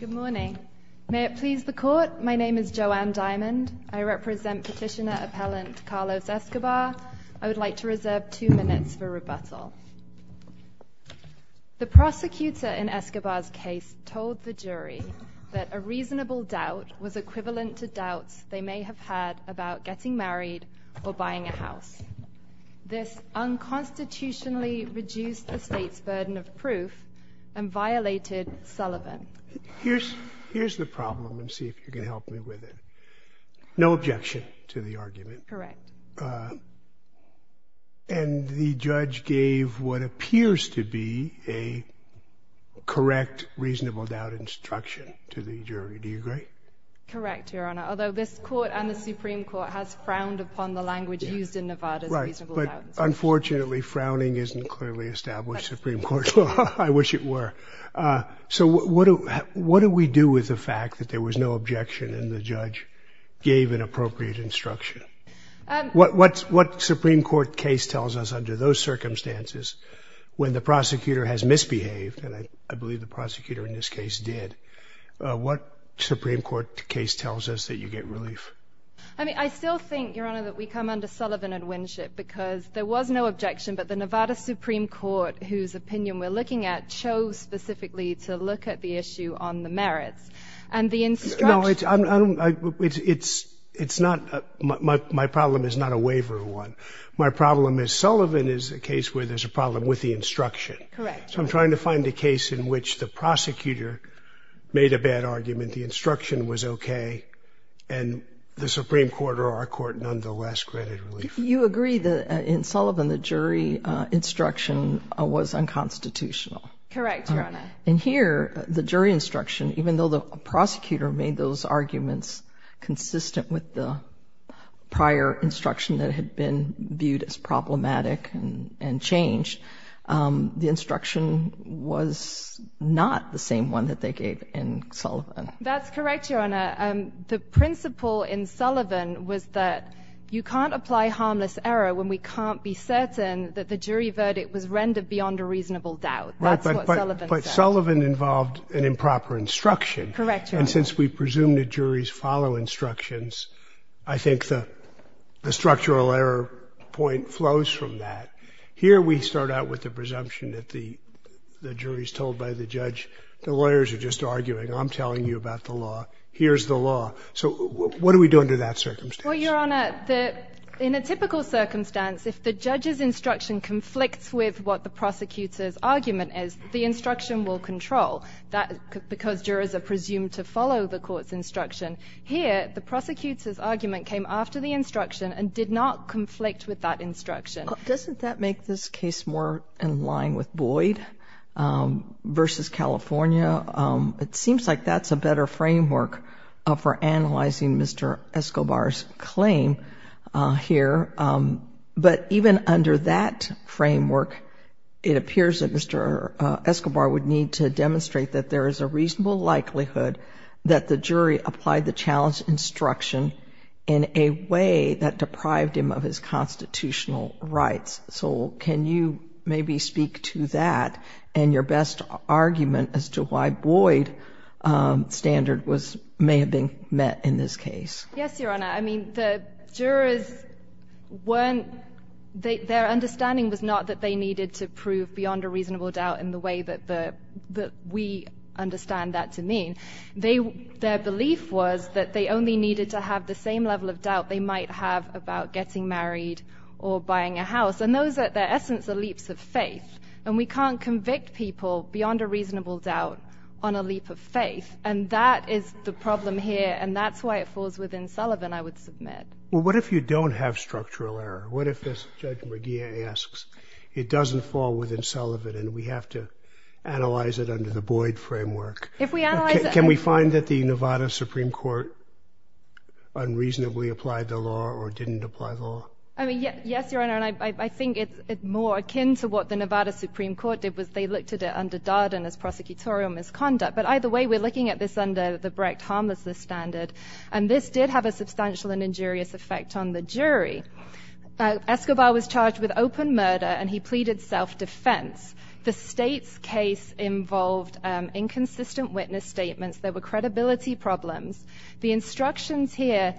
Good morning. May it please the Court, my name is Joanne Diamond. I represent Petitioner Appellant Carlos Escobar. I would like to reserve two minutes for rebuttal. The prosecutor in Escobar's case told the jury that a reasonable doubt was equivalent to doubts they may have had about getting married or buying a house. This unconstitutionally reduced the state's burden of proof and violated Sullivan. Here's the problem. Let's see if you can help me with it. No objection to the argument. Correct. And the judge gave what appears to be a correct reasonable doubt instruction to the jury. Do you agree? Correct, Your Honor. Although this Court and the Supreme Court has frowned upon the language used in Nevada's reasonable doubts. Unfortunately, frowning isn't clearly established in the Supreme Court. I wish it were. So what do we do with the fact that there was no objection and the judge gave an appropriate instruction? What Supreme Court case tells us under those circumstances when the prosecutor has misbehaved, and I believe the prosecutor in this case did, what Supreme Court case tells us that you get relief? I mean, I still think, Your Honor, that we come under Sullivan and Winship because there was no objection, but the Nevada Supreme Court, whose opinion we're looking at, chose specifically to look at the issue on the merits. And the instruction... No, it's, it's, it's not, my problem is not a waiver one. My problem is Sullivan is a case where there's a problem with the instruction. So I'm trying to find a case in which the and the Supreme Court or our court nonetheless granted relief. You agree that in Sullivan, the jury instruction was unconstitutional. Correct, Your Honor. And here, the jury instruction, even though the prosecutor made those arguments consistent with the prior instruction that had been viewed as problematic and, and changed, the instruction was not the same one that they gave in Sullivan. That's correct, Your Honor. The principle in Sullivan was that you can't apply harmless error when we can't be certain that the jury verdict was rendered beyond a reasonable doubt. That's what Sullivan said. Right, but, but Sullivan involved an improper instruction. Correct, Your Honor. And since we presume the juries follow instructions, I think the, the structural error point flows from that. Here, we start out with the presumption that the, the jury's told by the judge, the jury's told you about the law, here's the law. So what do we do under that circumstance? Well, Your Honor, the, in a typical circumstance, if the judge's instruction conflicts with what the prosecutor's argument is, the instruction will control that because jurors are presumed to follow the court's instruction. Here, the prosecutor's argument came after the instruction and did not conflict with that instruction. Doesn't that make this case more in line with framework for analyzing Mr. Escobar's claim here? But even under that framework, it appears that Mr. Escobar would need to demonstrate that there is a reasonable likelihood that the jury applied the challenge instruction in a way that deprived him of his constitutional rights. So can you maybe speak to that and your best argument as to why Boyd standard was, may have been met in this case? Yes, Your Honor. I mean, the jurors weren't, their understanding was not that they needed to prove beyond a reasonable doubt in the way that the, that we understand that to mean. They, their belief was that they only needed to have the same level of doubt they might have about getting married or buying a house. And those are, their essence are leaps of faith. And we can't convict people beyond a reasonable doubt on a leap of faith. And that is the problem here. And that's why it falls within Sullivan, I would submit. Well, what if you don't have structural error? What if this Judge McGee asks, it doesn't fall within Sullivan and we have to analyze it under the Boyd framework? Can we find that the Nevada Supreme Court unreasonably applied the law or didn't apply the law? I mean, yes, Your Honor. And I think it's more akin to what the Nevada Supreme Court did was they looked at it under Darden as prosecutorial misconduct. But either way, we're looking at this under the Brecht harmlessness standard and this did have a substantial and injurious effect on the jury. Escobar was involved, inconsistent witness statements, there were credibility problems. The instructions here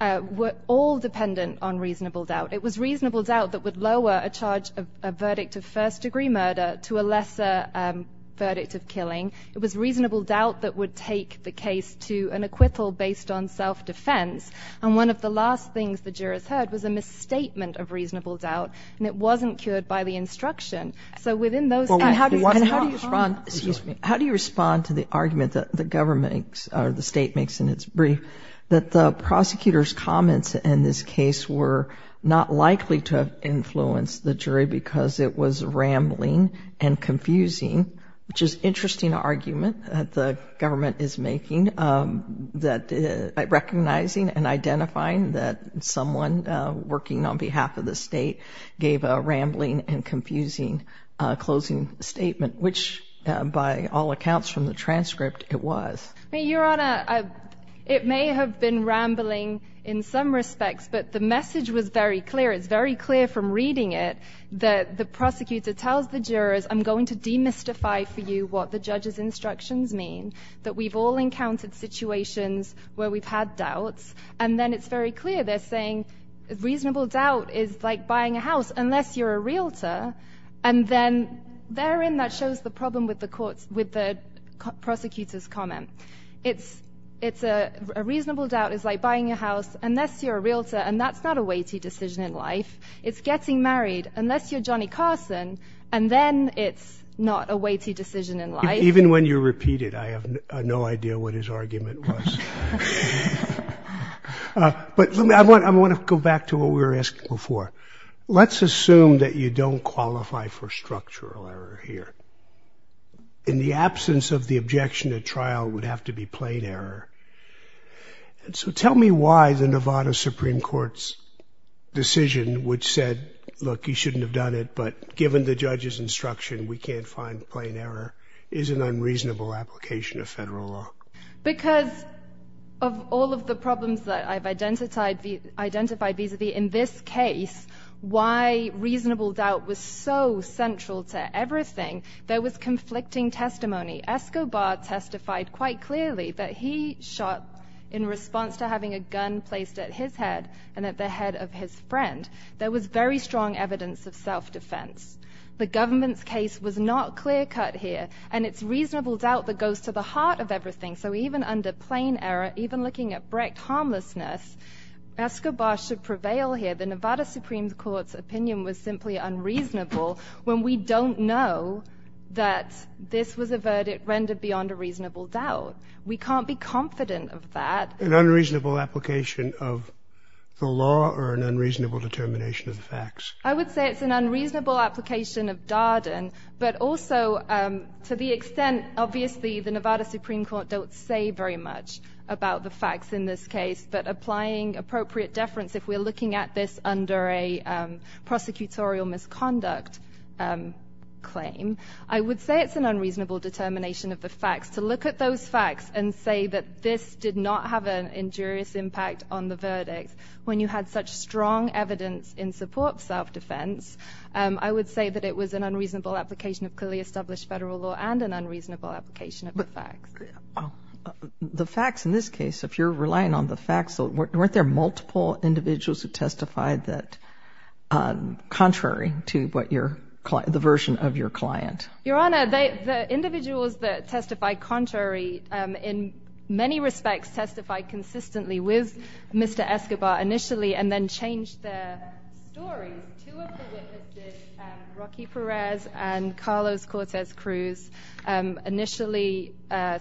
were all dependent on reasonable doubt. It was reasonable doubt that would lower a charge of a verdict of first degree murder to a lesser verdict of killing. It was reasonable doubt that would take the case to an acquittal based on self-defense. And one of the last things the jurors heard was a misstatement of reasonable doubt and it wasn't cured by the instruction. So within those... And how do you respond, excuse me, how do you respond to the argument that the government or the state makes in its brief that the prosecutor's comments in this case were not likely to have influenced the jury because it was rambling and confusing, which is interesting argument that the government is making, that recognizing and identifying that someone working on behalf of the state gave a rambling and confusing closing statement, which by all accounts from the transcript, it was. Your Honor, it may have been rambling in some respects, but the message was very clear. It's very clear from reading it that the prosecutor tells the jurors, I'm going to demystify for you what the judge's doubts. And then it's very clear they're saying reasonable doubt is like buying a house unless you're a realtor. And then therein that shows the problem with the court's, with the prosecutor's comment. It's a reasonable doubt is like buying a house unless you're a realtor. And that's not a weighty decision in life. It's getting married unless you're Johnny Carson. And then it's not a weighty decision in life. Even when you repeat it, I have no idea what his argument was. But I want to go back to what we were asking before. Let's assume that you don't qualify for structural error here. In the absence of the objection, a trial would have to be plain error. And so tell me why the Nevada Supreme Court's decision which said, look, you shouldn't have done it, but it's an unreasonable application of federal law. Because of all of the problems that I've identified vis-a-vis in this case, why reasonable doubt was so central to everything, there was conflicting testimony. Escobar testified quite clearly that he shot in response to having a gun placed at his head and at the head of his friend. There was very strong evidence of self-defense. The government's case was not clear cut here. And it's reasonable doubt that goes to the heart of everything. So even under plain error, even looking at Brecht harmlessness, Escobar should prevail here. The Nevada Supreme Court's opinion was simply unreasonable when we don't know that this was a verdict rendered beyond a reasonable doubt. We can't be confident of that. An unreasonable application of the law or an unreasonable determination of the facts? I would say it's an unreasonable application of Darden, but also to the extent, obviously, the Nevada Supreme Court don't say very much about the facts in this case. But applying appropriate deference, if we're looking at this under a prosecutorial misconduct claim, I would say it's an unreasonable determination of the facts to look at those facts and say that this did not have an injurious impact on the verdict. When you had such strong evidence in support of self-defense, I would say that it was an unreasonable application of clearly established federal law and an unreasonable application of the facts. The facts in this case, if you're relying on the facts, weren't there multiple individuals who testified contrary to the version of your client? Your Honor, the individuals that testified contrary in many respects testified consistently with Mr. Escobar initially and then changed their story. Two of the witnesses, Rocky Perez and Carlos Cortez Cruz, initially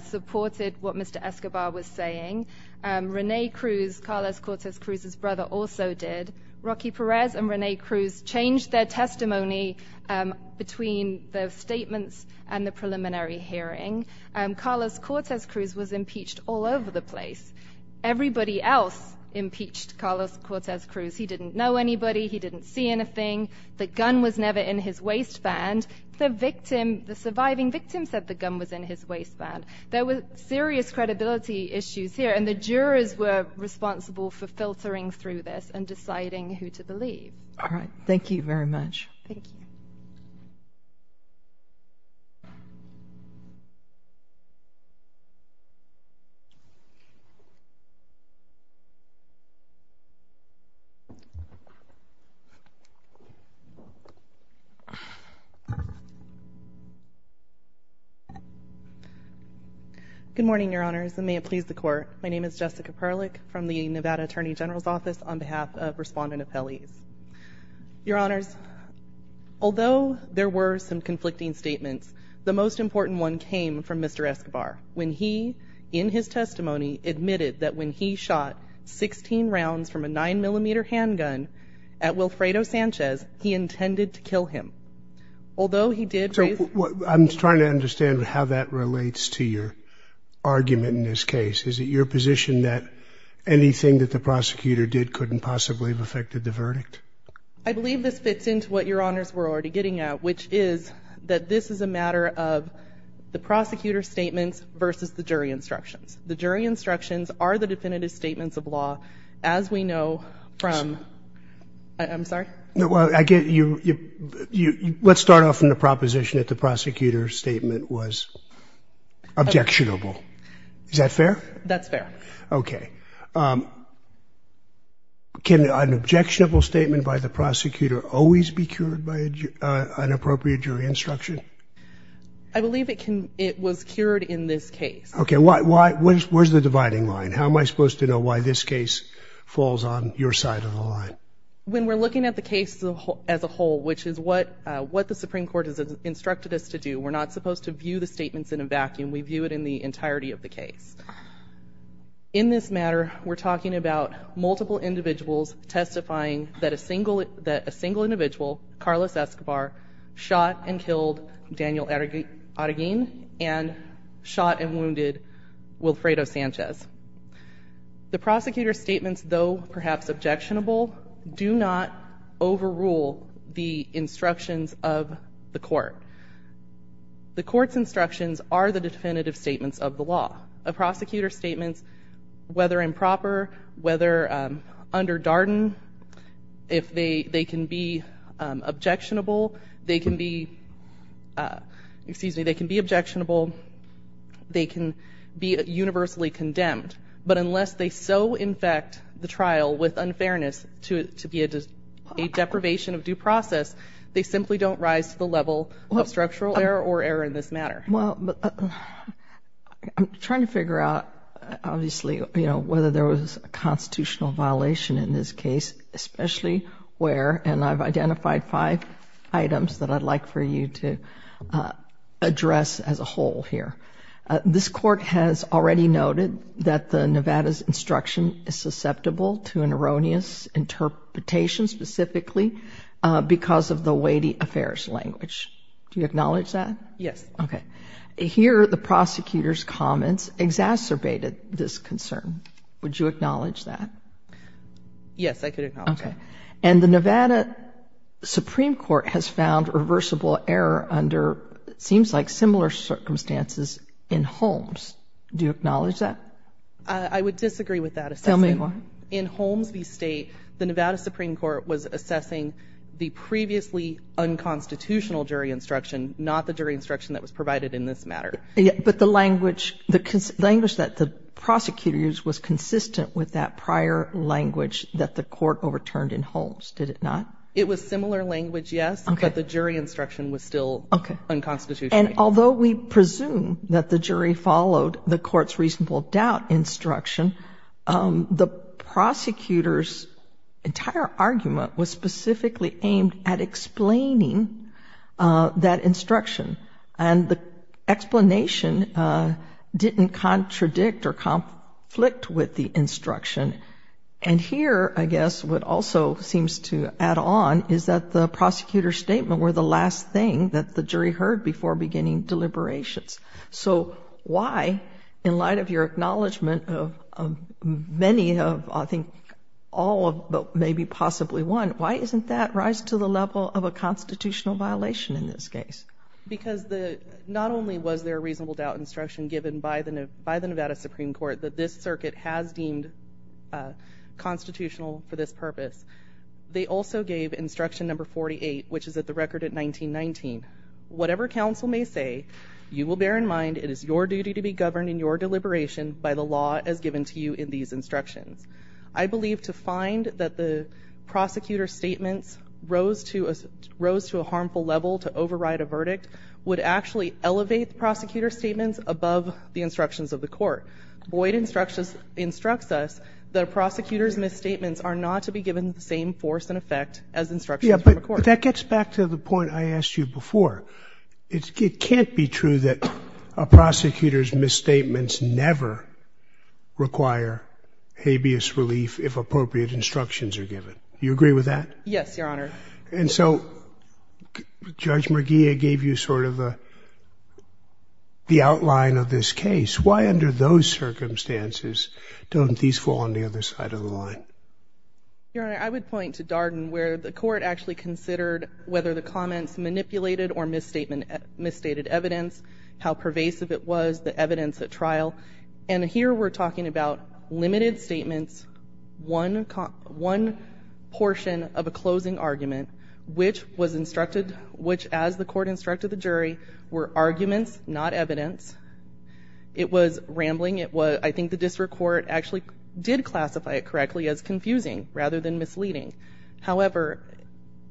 supported what Mr. Escobar was saying. Rene Cruz, Carlos Cortez Cruz's brother, also did. Rocky Perez and Rene Cruz changed their testimony between the statements and the preliminary hearing. Carlos Cortez Cruz was impeached all over the place. Everybody else impeached Carlos Cortez Cruz. He didn't know anybody. He didn't see anything. The gun was never in his waistband. The victim, the surviving victim, said the gun was in his waistband. There were serious credibility issues here and the jurors were responsible for filtering through this and deciding who to believe. All right. Thank you very much. Good morning, Your Honors, and may it please the Court. My name is Jessica Perlich from the Nevada Attorney General's Office on behalf of Respondent Appellees. Your Honors, although there were some conflicting statements, the most important one came from Mr. Escobar when he, in his testimony, admitted that when he shot 16 rounds from a 9mm handgun at Wilfredo Sanchez, he intended to kill him. Although he did raise... I'm trying to understand how that relates to your argument in this case. Is it your position that anything that the prosecutor did couldn't possibly have affected the verdict? I believe this fits into what Your Honors were already getting at, which is that this is a matter of the prosecutor's statements versus the jury instructions. The jury instructions are the definitive statements of law, as we know from... I'm sorry? Let's start off from the proposition that the prosecutor's statement was objectionable. Is that fair? That's fair. Okay. Can an objectionable statement by the prosecutor always be cured by an appropriate jury instruction? I believe it was cured in this case. Okay. Why? Where's the dividing line? How am I supposed to know why this case falls on your side of the line? When we're looking at the case as a whole, which is what the Supreme Court has instructed us to do, we're not supposed to view the statements in a vacuum. We view it in the entirety of the case. In this matter, we're talking about multiple individuals testifying that a single individual, Carlos Escobar, shot and killed Daniel Arreguin and shot and wounded Wilfredo Sanchez. The prosecutor's statements, though perhaps objectionable, do not overrule the instructions of the court. The court's instructions are the definitive statements of the law. A prosecutor's statements can be objectionable. They can be universally condemned. But unless they so infect the trial with unfairness to be a deprivation of due process, they simply don't rise to the level of structural error or error in this matter. I'm trying to figure out, obviously, whether there was a constitutional violation in this case. I've identified five items that I'd like for you to address as a whole here. This court has already noted that the Nevada's instruction is susceptible to an erroneous interpretation, specifically because of the weighty affairs language. Do you acknowledge that? Yes. Okay. Here, the prosecutor's comments exacerbated this concern. Would you acknowledge that? Yes, I could acknowledge that. And the Nevada Supreme Court has found reversible error under, it seems like, similar circumstances in Holmes. Do you acknowledge that? I would disagree with that assessment. Tell me why. In Holmes v. State, the Nevada Supreme Court was assessing the previously unconstitutional jury instruction, not the jury instruction that was provided in this matter. But the language that the prosecutor used was consistent with that prior language that the court overturned in Holmes, did it not? It was similar language, yes, but the jury instruction was still unconstitutional. And although we presume that the jury followed the court's reasonable doubt instruction, the prosecutor's entire argument was specifically aimed at explaining that instruction. And the explanation didn't contradict or conflict with the instruction. And here, again, the EDS would also, seems to add on, is that the prosecutor's statement were the last thing that the jury heard before beginning deliberations. So, why, in light of your acknowledgement of many of, I think, all of, but maybe possibly one, why isn't that rise to the level of a constitutional violation in this case? Because the, not only was there a reasonable doubt instruction given by the Nevada Supreme Court that this circuit has deemed constitutional for this purpose, they also gave instruction number 48, which is at the record at 1919. Whatever counsel may say, you will bear in mind it is your duty to be governed in your deliberation by the law as given to you in these instructions. I believe to find that the prosecutor's statements rose to a harmful level to override a verdict would actually elevate the prosecutor's statements above the instructions of the court. Boyd instructs us that a prosecutor's misstatements are not to be given the same force and effect as instructions from a court. Yeah, but that gets back to the point I asked you before. It can't be true that a prosecutor's misstatements never require habeas relief if appropriate instructions are given. Do you agree with that? Yes, Your Honor. And so Judge McGee gave you sort of the outline of this case. Why under those circumstances don't these fall on the other side of the line? Your Honor, I would point to Darden where the court actually considered whether the comments manipulated or misstated evidence, how pervasive it was, the evidence at trial. And here we're talking about limited statements, one portion of a closing argument, which as the court instructed the jury were arguments, not evidence. It was rambling. I think the district court actually did classify it correctly as confusing rather than misleading. However,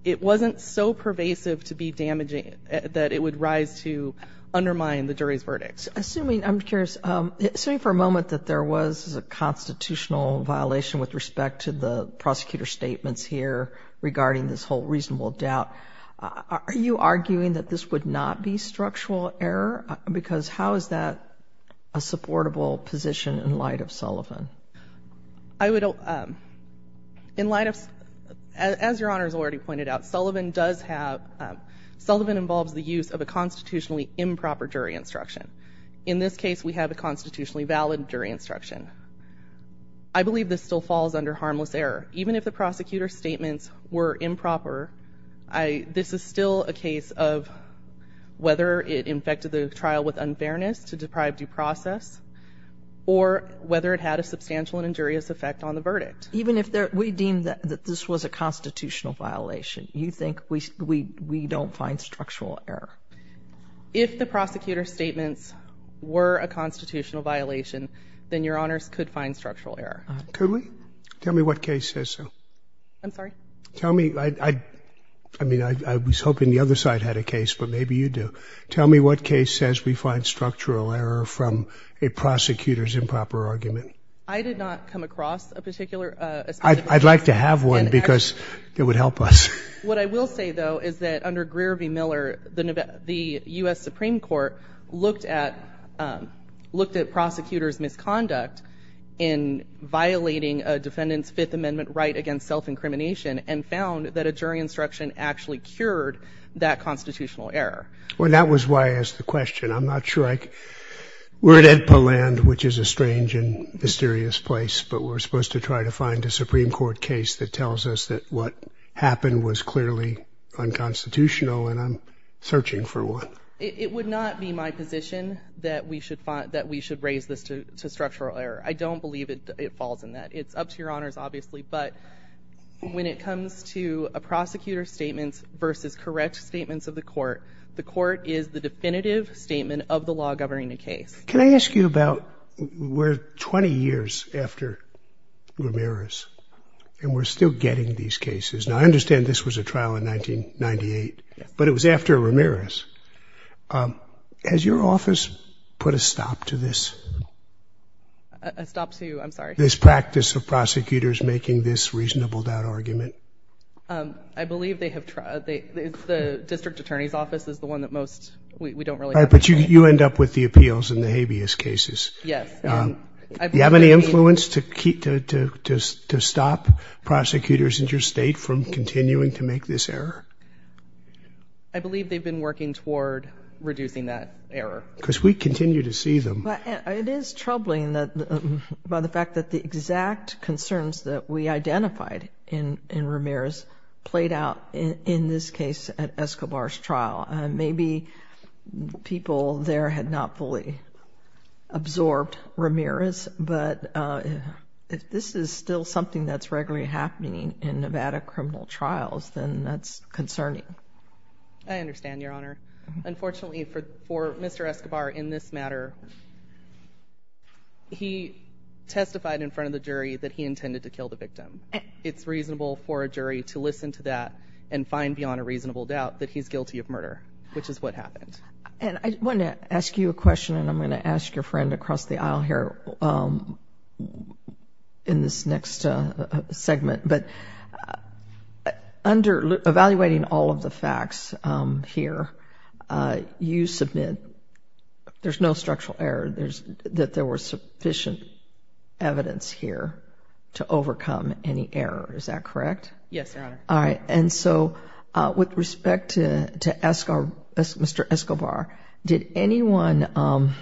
it wasn't so pervasive to be damaging that it would rise to undermine the jury's verdict. I'm curious, assuming for a moment that there was a constitutional violation with respect to the prosecutor's statements here regarding this whole reasonable doubt, are you arguing that this would not be structural error? Because how is that a supportable position in light of Sullivan? In light of, as Your Honor has already pointed out, Sullivan involves the use of a constitutionally improper jury instruction. In this case, we have a constitutionally valid jury instruction. I believe this still falls under harmless error. Even if the prosecutor's statements were improper, this is still a case of whether it infected the trial with unfairness to deprive due process or whether it had a substantial and injurious effect on the verdict. Even if we deem that this was a constitutional violation, you think we don't find structural error? If the prosecutor's statements were a constitutional violation, then Your Honors could find structural error. Could we? Tell me what case says so. I'm sorry? Tell me. I mean, I was hoping the other side had a case, but maybe you do. Tell me what case says we find structural error from a prosecutor's improper argument. I did not come across a particular... I'd like to have one because it would help us. What I will say, though, is that under Greer v. Miller, the U.S. Supreme Court looked at prosecutor's misconduct in violating a defendant's Fifth Amendment right against self-incrimination and found that a jury instruction actually cured that constitutional error. That was why I asked the question. I'm not sure I... We're at Edpoland, which is a strange and mysterious place, but we're supposed to try to find a Supreme Court case that tells us that what happened was clearly unconstitutional, and I'm searching for one. It would not be my position that we should raise this to structural error. I don't believe it falls in that. It's up to Your Honors, obviously, but when it comes to a prosecutor's statements versus correct statements of the court, the court is the definitive statement of the law governing the case. Can I ask you about... We're 20 years after Ramirez, and we're still getting these cases. Now, I understand this was a trial in 1998, but it was after Ramirez. Has your office put a stop to this? A stop to, I'm sorry? This practice of prosecutors making this reasonable doubt argument? I believe they have tried. The district attorney's office is the one that most... We don't really All right, but you end up with the appeals in the habeas cases. Yes. Do you have any influence to stop prosecutors in your state from continuing to make this error? I believe they've been working toward reducing that error. Because we continue to see them. It is troubling by the fact that the exact concerns that we identified in Ramirez played out in this case at Escobar's trial. Maybe people there had not fully absorbed Ramirez, but if this is still something that's regularly happening in Nevada criminal trials, then that's concerning. I understand, Your Honor. Unfortunately, for Mr. Escobar in this matter, he testified in front of the jury that he intended to kill the victim. It's reasonable for a jury to find beyond a reasonable doubt that he's guilty of murder, which is what happened. I want to ask you a question, and I'm going to ask your friend across the aisle here in this next segment. Under evaluating all of the facts here, you submit there's no structural error, that there was sufficient evidence here to overcome any error. Is that correct? Yes, Your Honor. All right. With respect to Mr. Escobar, did anyone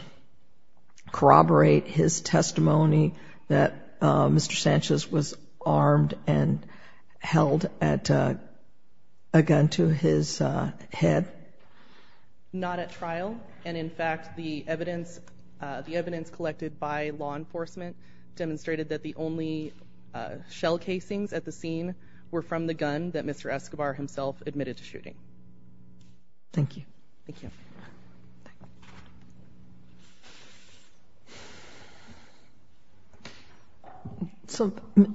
corroborate his testimony that Mr. Sanchez was armed and held a gun to his head? Not at trial. In fact, the evidence collected by law enforcement demonstrated that the only shell casings at the scene were from the gun that Mr. Escobar himself admitted to shooting.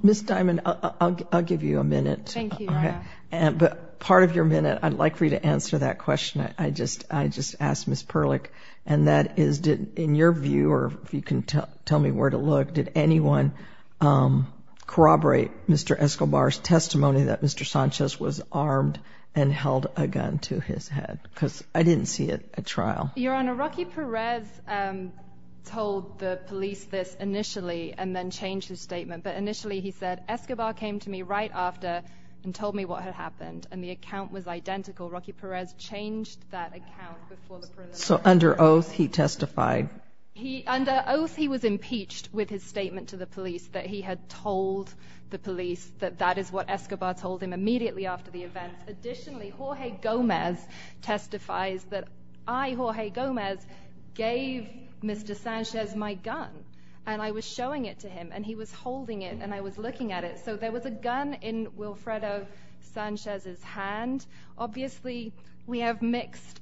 Ms. Diamond, I'll give you a minute, but part of your minute, I'd like for you to answer that question. I just asked Ms. Perlich, and that is, in your view, or if you can tell me where to look, did anyone corroborate Mr. Escobar's testimony that Mr. Sanchez was armed and held a gun to his head? Because I didn't see it at trial. Your Honor, Rocky Perez told the police this initially, and then changed his statement. But initially, he said, Escobar came to me right after and told me what had happened, and the account was identical. Rocky Perez changed that account before the... So under oath, he testified? Under oath, he was impeached with his statement to the police that he had told the police that that is what Escobar told him immediately after the event. Additionally, Jorge Gomez testifies that, I, Jorge Gomez, gave Mr. Sanchez my gun, and I was showing it to him, and he was holding it, and I was looking at it. So there was a gun in Wilfredo Sanchez's hand. Obviously, we have mixed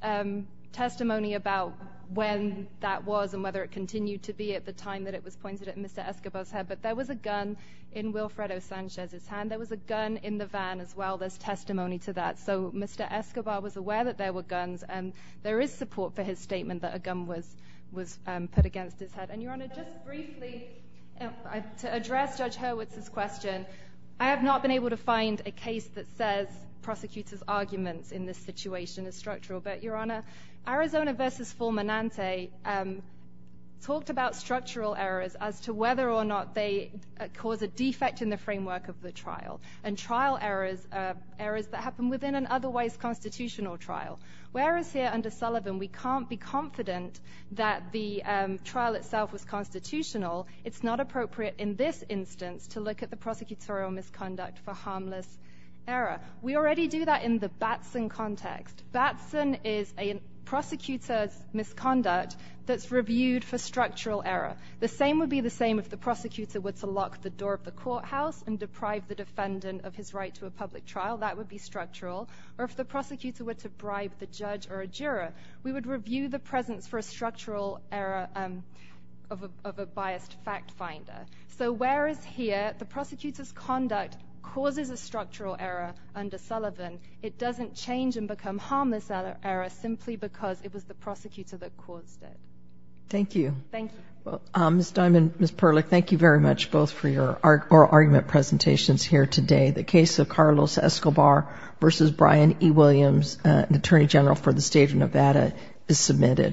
testimony about when that was and whether it continued to be at the time that it was pointed at Mr. Escobar's head, but there was a gun in Wilfredo Sanchez's hand. There was a gun in the van as well. There's testimony to that. So Mr. Escobar was aware that there were guns, and there is support for his statement that a gun was put against his head. And, Your Honor, just briefly, to address Judge Hurwitz's question, I have not been able to find a case that says prosecutors' arguments in this situation are structural, but, Your Honor, Arizona v. Fulminante talked about structural errors as to whether or not they cause a defect in the framework of the trial, and trial errors are errors that happen within an otherwise constitutional trial. Whereas here under Sullivan, we can't be confident that the trial itself was constitutional, it's not appropriate in this instance to look at the prosecutorial misconduct for harmless error. We already do that in the Batson context. Batson is a prosecutor's misconduct that's reviewed for structural error. The same would be the same if the prosecutor were to lock the door of the courthouse and deprive the defendant of his right to a public trial. That would be structural. Or if the prosecutor were to bribe the judge or a juror, we would review the presence for a structural error of a biased fact finder. So whereas here the prosecutor's conduct causes a structural error under Sullivan, it doesn't change and become harmless error simply because it was the prosecutor that caused it. Thank you. Thank you. Ms. Diamond, Ms. Perlich, thank you very much both for your oral argument presentations here today. The case of Carlos Escobar v. Brian E. Williams, an attorney general for the state of Nevada, is submitted.